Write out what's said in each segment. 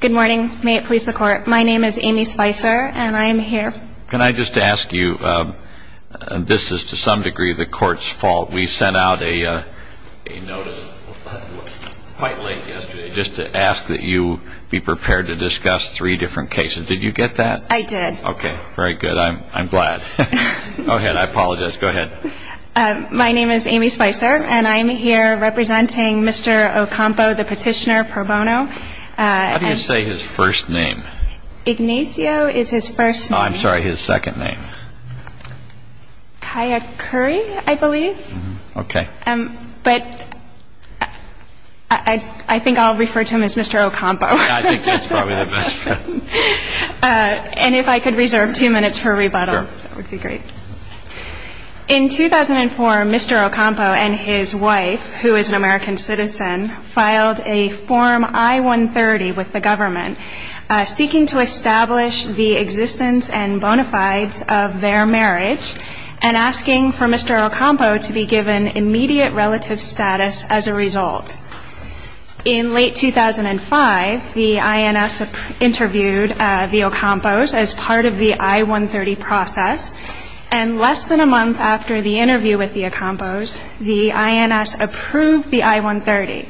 Good morning. May it please the Court, my name is Amy Spicer and I am here. Can I just ask you, this is to some degree the Court's fault. We sent out a notice quite late yesterday just to ask that you be prepared to discuss three different cases. Did you get that? I did. Okay. Very good. I'm glad. Go ahead. I apologize. Go ahead. My name is Amy Spicer and I'm here representing Mr. Ocampo, the petitioner pro bono. How do you say his first name? Ignacio is his first name. Oh, I'm sorry, his second name. Ccayhuari, I believe. Okay. But I think I'll refer to him as Mr. Ocampo. I think that's probably the best. And if I could reserve two minutes for rebuttal, that would be great. Sure. In 2004, Mr. Ocampo and his wife, who is an American citizen, filed a Form I-130 with the government, seeking to establish the existence and bona fides of their marriage and asking for Mr. Ocampo to be given immediate relative status as a result. In late 2005, the INS interviewed the Ocampos as part of the I-130 process. And less than a month after the interview with the Ocampos, the INS approved the I-130.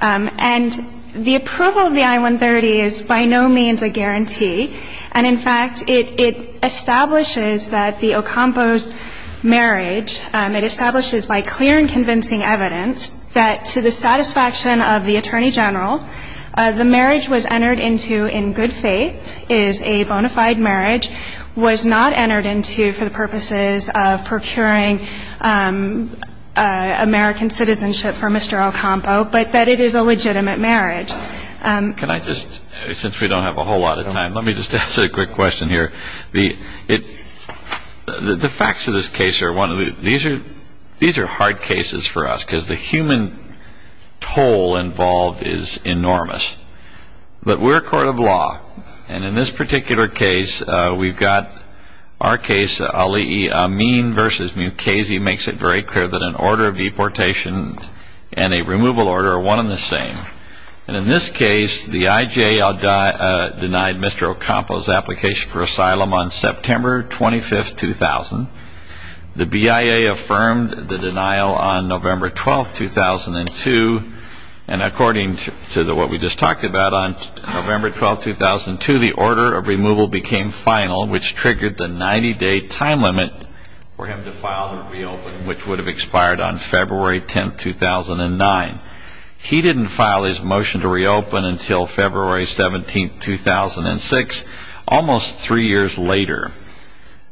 And the approval of the I-130 is by no means a guarantee. And, in fact, it establishes that the Ocampos marriage, it establishes by clear and convincing evidence that to the satisfaction of the Attorney General, the marriage was entered into in good faith, is a bona fide marriage, was not entered into for the purposes of procuring American citizenship for Mr. Ocampo, but that it is a legitimate marriage. Can I just, since we don't have a whole lot of time, let me just ask a quick question here. The facts of this case are one of the, these are hard cases for us because the human toll involved is enormous. But we're a court of law. And in this particular case, we've got our case, Ali Amin v. Mukasey, makes it very clear that an order of deportation and a removal order are one and the same. And in this case, the IJA denied Mr. Ocampo's application for asylum on September 25, 2000. The BIA affirmed the denial on November 12, 2002. And according to what we just talked about, on November 12, 2002, the order of removal became final, which triggered the 90-day time limit for him to file and reopen, which would have expired on February 10, 2009. He didn't file his motion to reopen until February 17, 2006, almost three years later.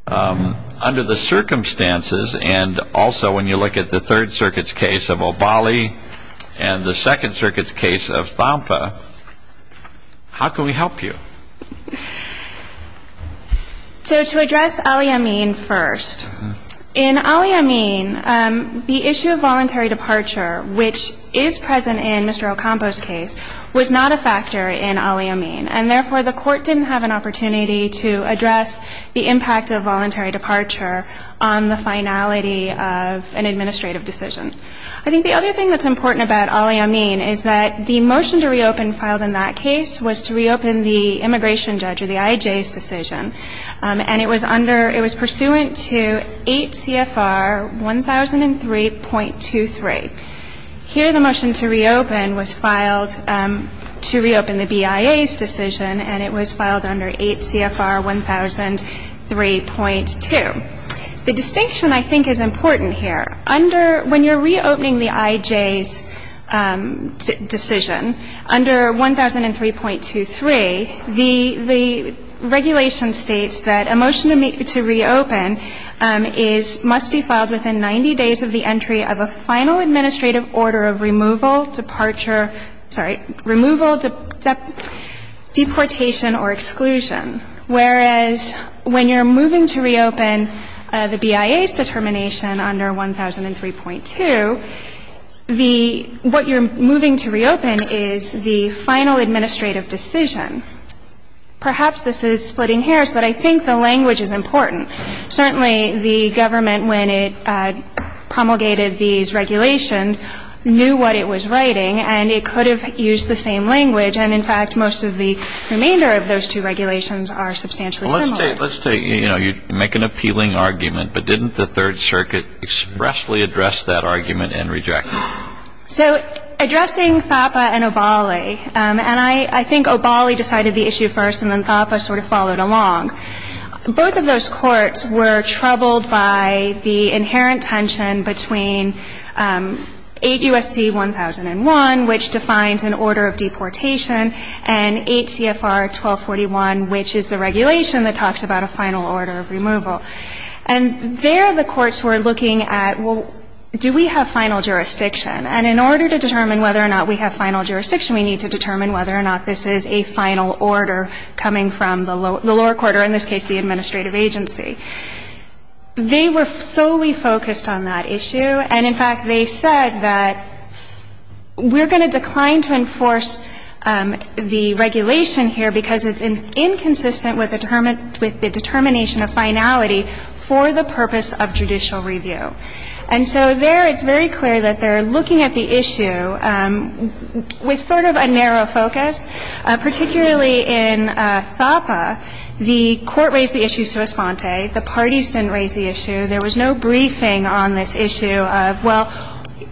Under the circumstances, and also when you look at the Third Circuit's case of Obali and the Second Circuit's case of Thampa, how can we help you? So to address Ali Amin first. In Ali Amin, the issue of voluntary departure, which is present in Mr. Ocampo's case, was not a factor in Ali Amin. And therefore, the court didn't have an opportunity to address the impact of voluntary departure on the finality of an administrative decision. I think the other thing that's important about Ali Amin is that the motion to reopen filed in that case was to reopen the immigration judge or the IJA's decision. And it was under — it was pursuant to 8 CFR 1003.23. Here, the motion to reopen was filed to reopen the BIA's decision, and it was filed under 8 CFR 1003.2. The distinction, I think, is important here. When you're reopening the IJA's decision under 1003.23, the regulation states that a motion to reopen must be filed within 90 days of the entry of a final administrative order of removal, departure — sorry, removal, deportation or exclusion. Whereas when you're moving to reopen the BIA's determination under 1003.2, the — what you're moving to reopen is the final administrative decision. Perhaps this is splitting hairs, but I think the language is important. Certainly, the government, when it promulgated these regulations, knew what it was writing, and it could have used the same language. And, in fact, most of the remainder of those two regulations are substantially similar. Well, let's take — let's take — you know, you make an appealing argument, but didn't the Third Circuit expressly address that argument and reject it? So addressing FAPA and OBALI — and I think OBALI decided the issue first, and then FAPA sort of followed along. Both of those courts were troubled by the inherent tension between 8 U.S.C. 1001, which defines an order of deportation, and 8 CFR 1241, which is the regulation that talks about a final order of removal. And there the courts were looking at, well, do we have final jurisdiction? And in order to determine whether or not we have final jurisdiction, we need to determine whether or not this is a final order coming from the lower court, or in this case, the administrative agency. They were solely focused on that issue. And, in fact, they said that we're going to decline to enforce the regulation here because it's inconsistent with the determination of finality for the purpose of judicial review. And so there it's very clear that they're looking at the issue with sort of a narrow focus. Particularly in FAPA, the Court raised the issue sua sponte. The parties didn't raise the issue. There was no briefing on this issue of, well,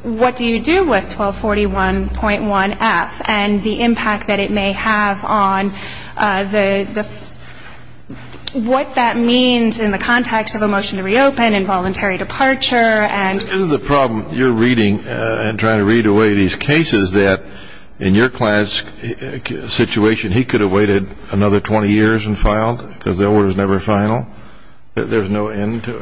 what do you do with 1241.1F and the impact that it may have on the what that means in the context of a motion to reopen and voluntary departure and the problem you're reading and trying to read away these cases that in your client's situation he could have waited another 20 years and filed because the order is never final. There's no end to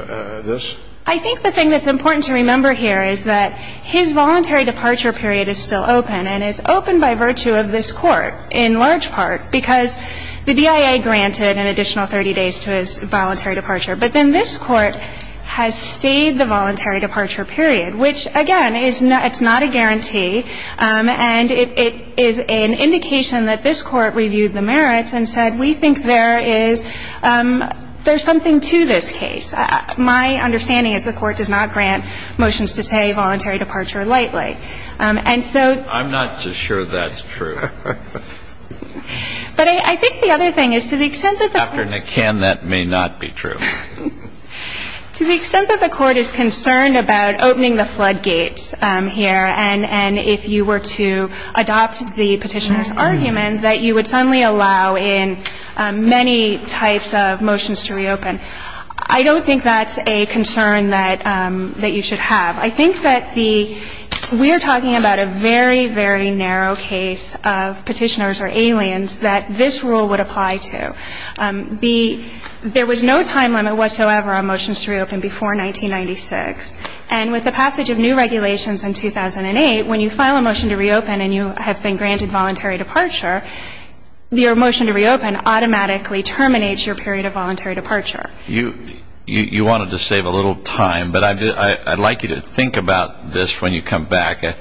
this? I think the thing that's important to remember here is that his voluntary departure period is still open. And it's open by virtue of this Court in large part because the DIA granted an additional 30 days to his voluntary departure. But then this Court has stayed the voluntary departure period, which, again, it's not a guarantee. And it is an indication that this Court reviewed the merits and said we think there is something to this case. My understanding is the Court does not grant motions to say voluntary departure lightly. And so the other thing is to the extent that the Court is concerned about opening the floodgates here and if you were to adopt the Petitioner's argument that you would have to wait 30 days to reopen, I think that's a very, very narrow case of Petitioner's or Alien's that this rule would apply to. There was no time limit whatsoever on motions to reopen before 1996. And with the passage of new regulations in 2008, when you file a motion to reopen and you have been granted voluntary departure, your motion to reopen automatically terminates your period of voluntary departure. You wanted to save a little time, but I'd like you to think about this when you come back.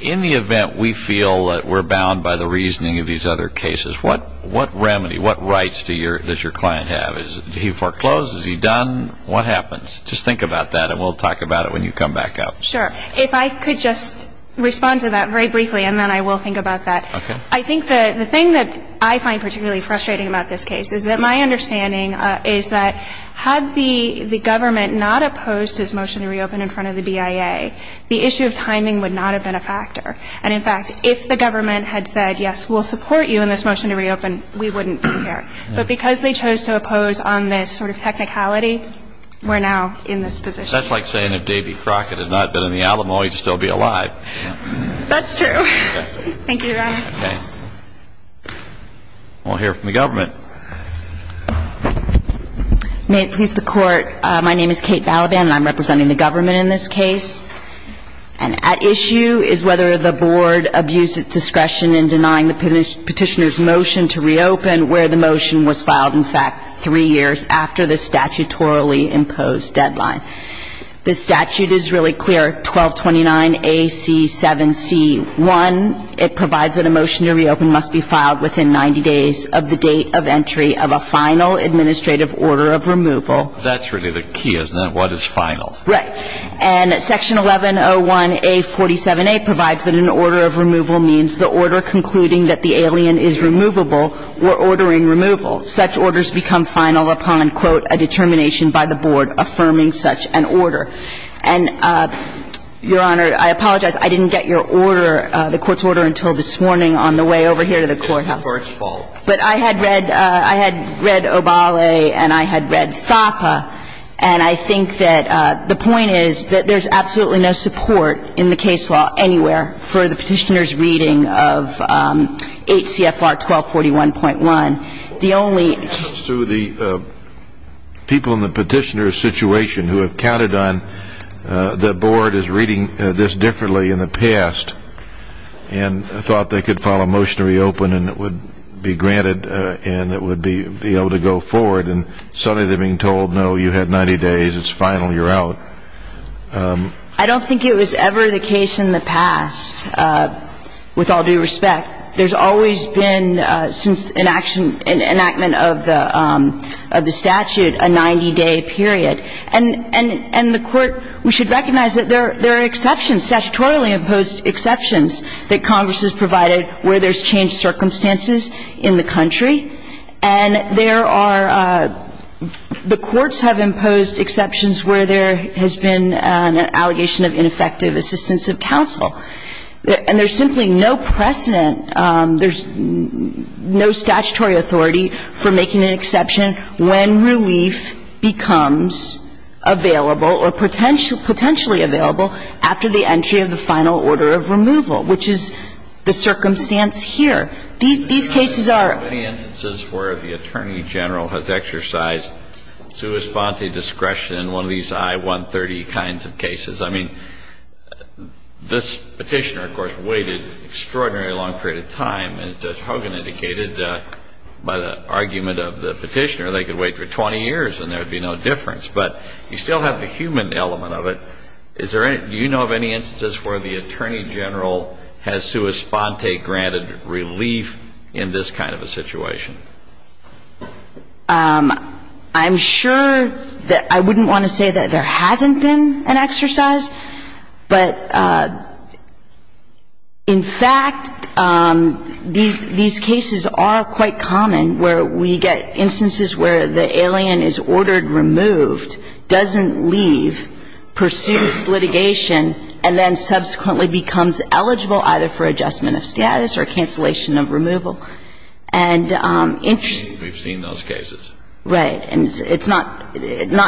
In the event we feel that we're bound by the reasoning of these other cases, what remedy, what rights does your client have? Is he foreclosed? Is he done? What happens? Just think about that and we'll talk about it when you come back up. Sure. If I could just respond to that very briefly and then I will think about that. Okay. I think the thing that I find particularly frustrating about this case is that my understanding is that had the government not opposed to this motion to reopen in front of the BIA, the issue of timing would not have been a factor. And in fact, if the government had said, yes, we'll support you in this motion to reopen, we wouldn't be here. But because they chose to oppose on this sort of technicality, we're now in this position. That's like saying if Davy Crockett had not been in the Alamo, he'd still be alive. That's true. Thank you, Your Honor. Okay. We'll hear from the government. May it please the Court. My name is Kate Balaban and I'm representing the government in this case. And at issue is whether the Board abused its discretion in denying the Petitioner's motion to reopen where the motion was filed, in fact, three years after the statutorily imposed deadline. The statute is really clear, 1229AC7C1. It provides that a motion to reopen must be filed within 90 days of the date of entry of a final administrative order of removal. That's really the key, isn't it, what is final? Right. And Section 1101A47A provides that an order of removal means the order concluding that the alien is removable or ordering removal. Such orders become final upon, quote, a determination by the Board affirming such an order. And, Your Honor, I apologize. I didn't get your order, the Court's order, until this morning on the way over here to the courthouse. It's the Court's fault. But I had read Obale and I had read FAPA, and I think that the point is that there's absolutely no support in the case law anywhere for the Petitioner's reading of 8 CFR 1241.1. Sue, the people in the Petitioner's situation who have counted on the Board as reading this differently in the past and thought they could file a motion to reopen and it would be granted and it would be able to go forward, and suddenly they're being told, no, you had 90 days, it's final, you're out. I don't think it was ever the case in the past, with all due respect. There's always been, since enactment of the statute, a 90-day period. And the Court, we should recognize that there are exceptions, statutorily imposed exceptions, that Congress has provided where there's changed circumstances in the country. And there are the courts have imposed exceptions where there has been an allegation of ineffective assistance of counsel. And there's simply no precedent, there's no statutory authority for making an exception when relief becomes available or potentially available after the entry of the final order of removal, which is the circumstance here. These cases are. Kennedy. There are many instances where the Attorney General has exercised sua sponsa discretion in one of these I-130 kinds of cases. I mean, this Petitioner, of course, waited an extraordinarily long period of time. And as Judge Hogan indicated, by the argument of the Petitioner, they could wait for 20 years and there would be no difference. But you still have the human element of it. Do you know of any instances where the Attorney General has sua sponsa granted relief in this kind of a situation? I'm sure that I wouldn't want to say that there hasn't been an exercise, but in fact, these cases are quite common where we get instances where the alien is ordered removed, doesn't leave, pursues litigation, and then subsequently becomes eligible either for adjustment of status or cancellation of removal. And interestingly... We've seen those cases. Right. And it's not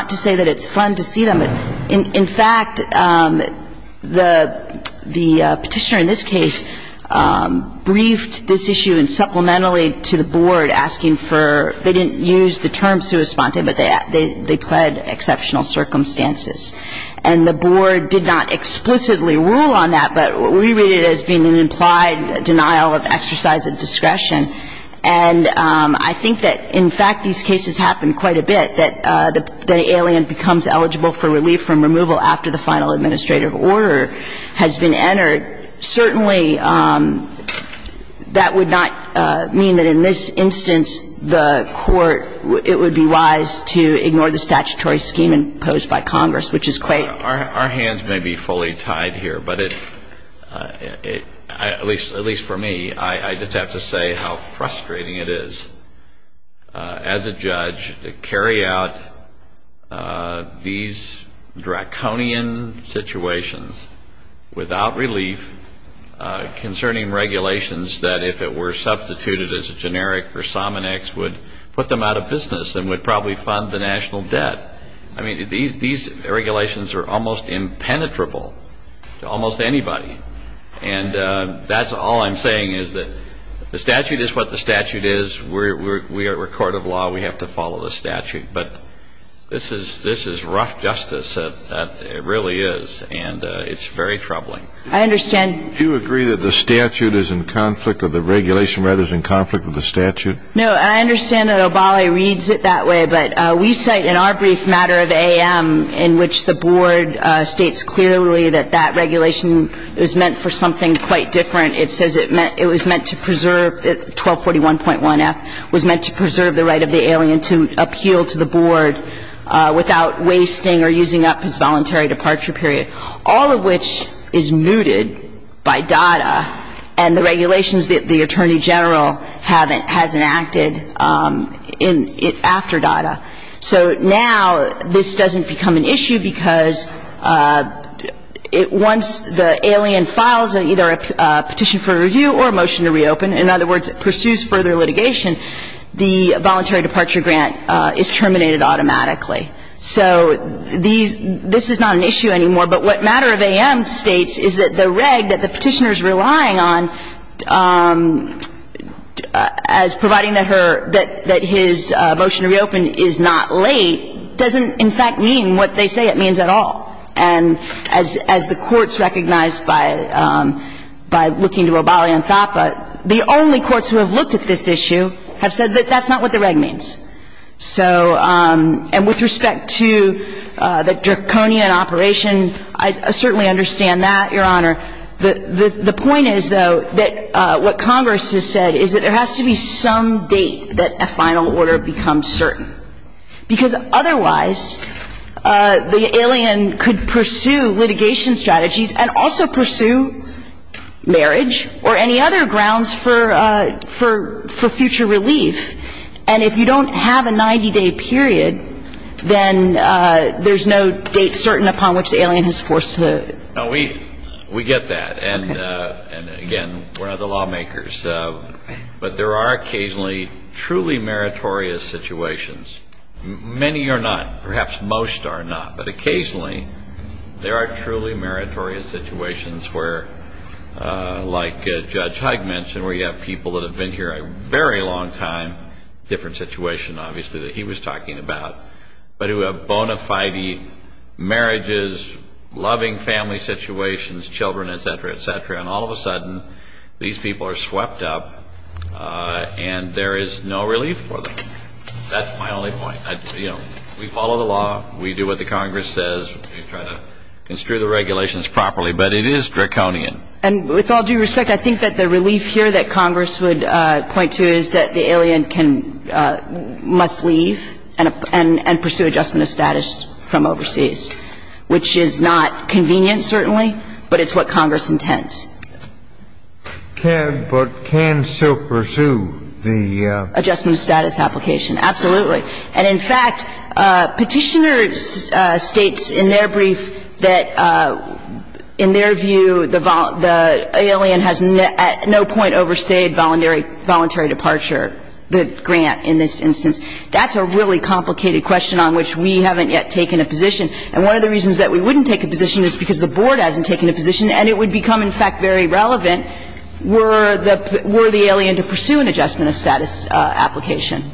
to say that it's fun to see them. In fact, the Petitioner in this case briefed this issue, and supplementarily to the Board, asking for they didn't use the term sua sponsa, but they pled exceptional circumstances. And the Board did not explicitly rule on that, but we read it as being an implied denial of exercise of discretion. And I think that, in fact, these cases happen quite a bit, that the alien becomes eligible for relief from removal after the final administrative order has been entered. Certainly, that would not mean that in this instance the Court, it would be wise to ignore the statutory scheme imposed by Congress, which is quite... At least for me, I just have to say how frustrating it is as a judge to carry out these draconian situations without relief concerning regulations that, if it were substituted as a generic or somonex, would put them out of business and would probably fund the national debt. I mean, these regulations are almost impenetrable to almost anybody. And that's all I'm saying, is that the statute is what the statute is. We are a court of law. We have to follow the statute. But this is rough justice. It really is. And it's very troubling. I understand... Do you agree that the statute is in conflict or the regulation, rather, is in conflict with the statute? No. I understand that Obali reads it that way, but we cite in our brief matter of A.M. in which the board states clearly that that regulation was meant for something quite different. It says it was meant to preserve 1241.1F, was meant to preserve the right of the alien to appeal to the board without wasting or using up his voluntary departure period, all of which is mooted by DADA and the regulations that the Attorney General has enacted after DADA. So now this doesn't become an issue because once the alien files either a petition for review or a motion to reopen, in other words, pursues further litigation, the voluntary departure grant is terminated automatically. So these – this is not an issue anymore. But what matter of A.M. states is that the reg that the Petitioner is relying on as providing that her – that his motion to reopen is not late doesn't, in fact, mean what they say it means at all. And as the courts recognized by looking to Obali and FAPA, the only courts who have looked at this issue have said that that's not what the reg means. So – and with respect to the draconian operation, I certainly understand that, Your Honor. The point is, though, that what Congress has said is that there has to be some date that a final order becomes certain, because otherwise the alien could pursue litigation strategies and also pursue marriage or any other grounds for – for future relief. And if you don't have a 90-day period, then there's no date certain upon which the alien is forced to do it. No, we – we get that. And, again, we're not the lawmakers. But there are occasionally truly meritorious situations. Many are not. Perhaps most are not. But occasionally, there are truly meritorious situations where, like Judge Huyck mentioned, where you have people that have been here a very long time – different situation, obviously, that he was talking about – but who have bona fide marriages, loving family situations, children, et cetera, et cetera. And all of a sudden, these people are swept up and there is no relief for them. That's my only point. You know, we follow the law. We do what the Congress says. We try to construe the regulations properly. But it is draconian. And with all due respect, I think that the relief here that Congress would point to is that the alien can – must leave and pursue adjustment of status from overseas, which is not convenient, certainly, but it's what Congress intends. But can she pursue the adjustment of status application? Absolutely. And, in fact, Petitioners states in their brief that, in their view, the alien has at no point overstayed voluntary departure, the grant in this instance. That's a really complicated question on which we haven't yet taken a position. And one of the reasons that we wouldn't take a position is because the Board hasn't taken a position and it would become, in fact, very relevant were the alien to pursue an adjustment of status application.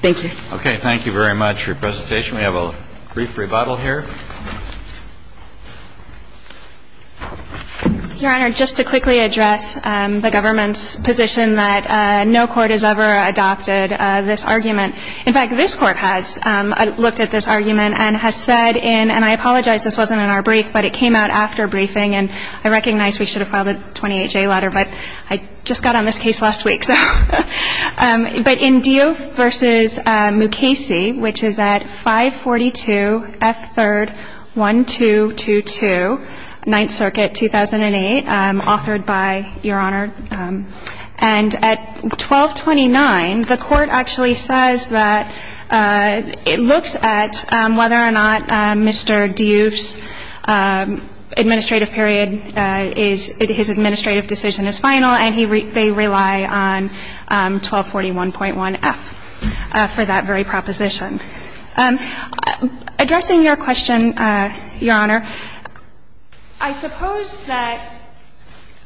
Thank you. Okay. Thank you very much for your presentation. We have a brief rebuttal here. Your Honor, just to quickly address the government's position that no court has ever adopted this argument. In fact, this Court has looked at this argument and has said in – and I apologize, this wasn't in our brief, but it came out after briefing, and I recognize we should have filed a 28-J letter, but I just got on this case last week. But in Diouf v. Mukasey, which is at 542 F. 3rd. 1222, Ninth Circuit, 2008, authored by Your Honor. And at 1229, the Court actually says that it looks at whether or not Mr. Diouf's administrative period is – his administrative decision is final, and he – they rely on 1241.1 F for that very proposition. Addressing your question, Your Honor, I suppose that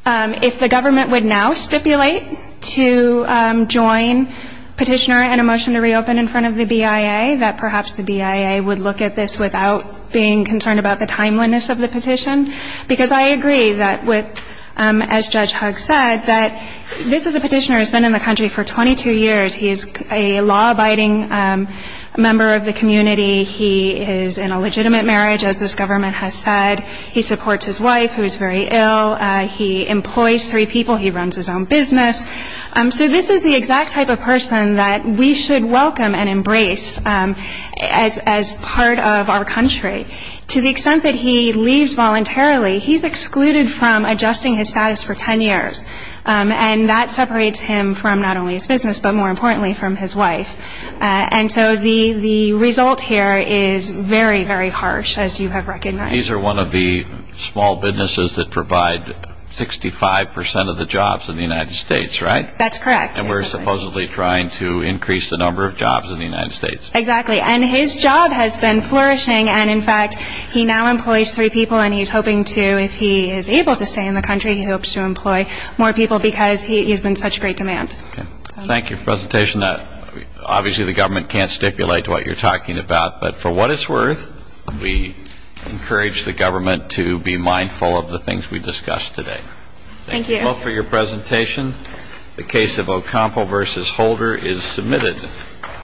if the government would now stipulate to join Petitioner in a motion to reopen in front of the BIA, that perhaps the BIA would look at this without being concerned about the timeliness of the petition. Because I agree that with – as Judge Huggs said, that this is a petitioner who's been in the country for 22 years. He is a law-abiding member of the community. He is in a legitimate marriage, as this government has said. He supports his wife, who is very ill. He employs three people. He runs his own business. So this is the exact type of person that we should welcome and embrace as part of our country. To the extent that he leaves voluntarily, he's excluded from adjusting his status for 10 years. And that separates him from not only his business, but more importantly, from his wife. And so the result here is very, very harsh, as you have recognized. These are one of the small businesses that provide 65 percent of the jobs in the United States, right? That's correct. And we're supposedly trying to increase the number of jobs in the United States. Exactly. And his job has been flourishing. And, in fact, he now employs three people. And he's hoping to – if he is able to stay in the country, he hopes to employ more people, because he's in such great demand. Okay. Thank you for your presentation. Obviously, the government can't stipulate what you're talking about. But for what it's worth, we encourage the government to be mindful of the things we discussed today. Thank you. Thank you both for your presentation. The case of Ocampo v. Holder is submitted.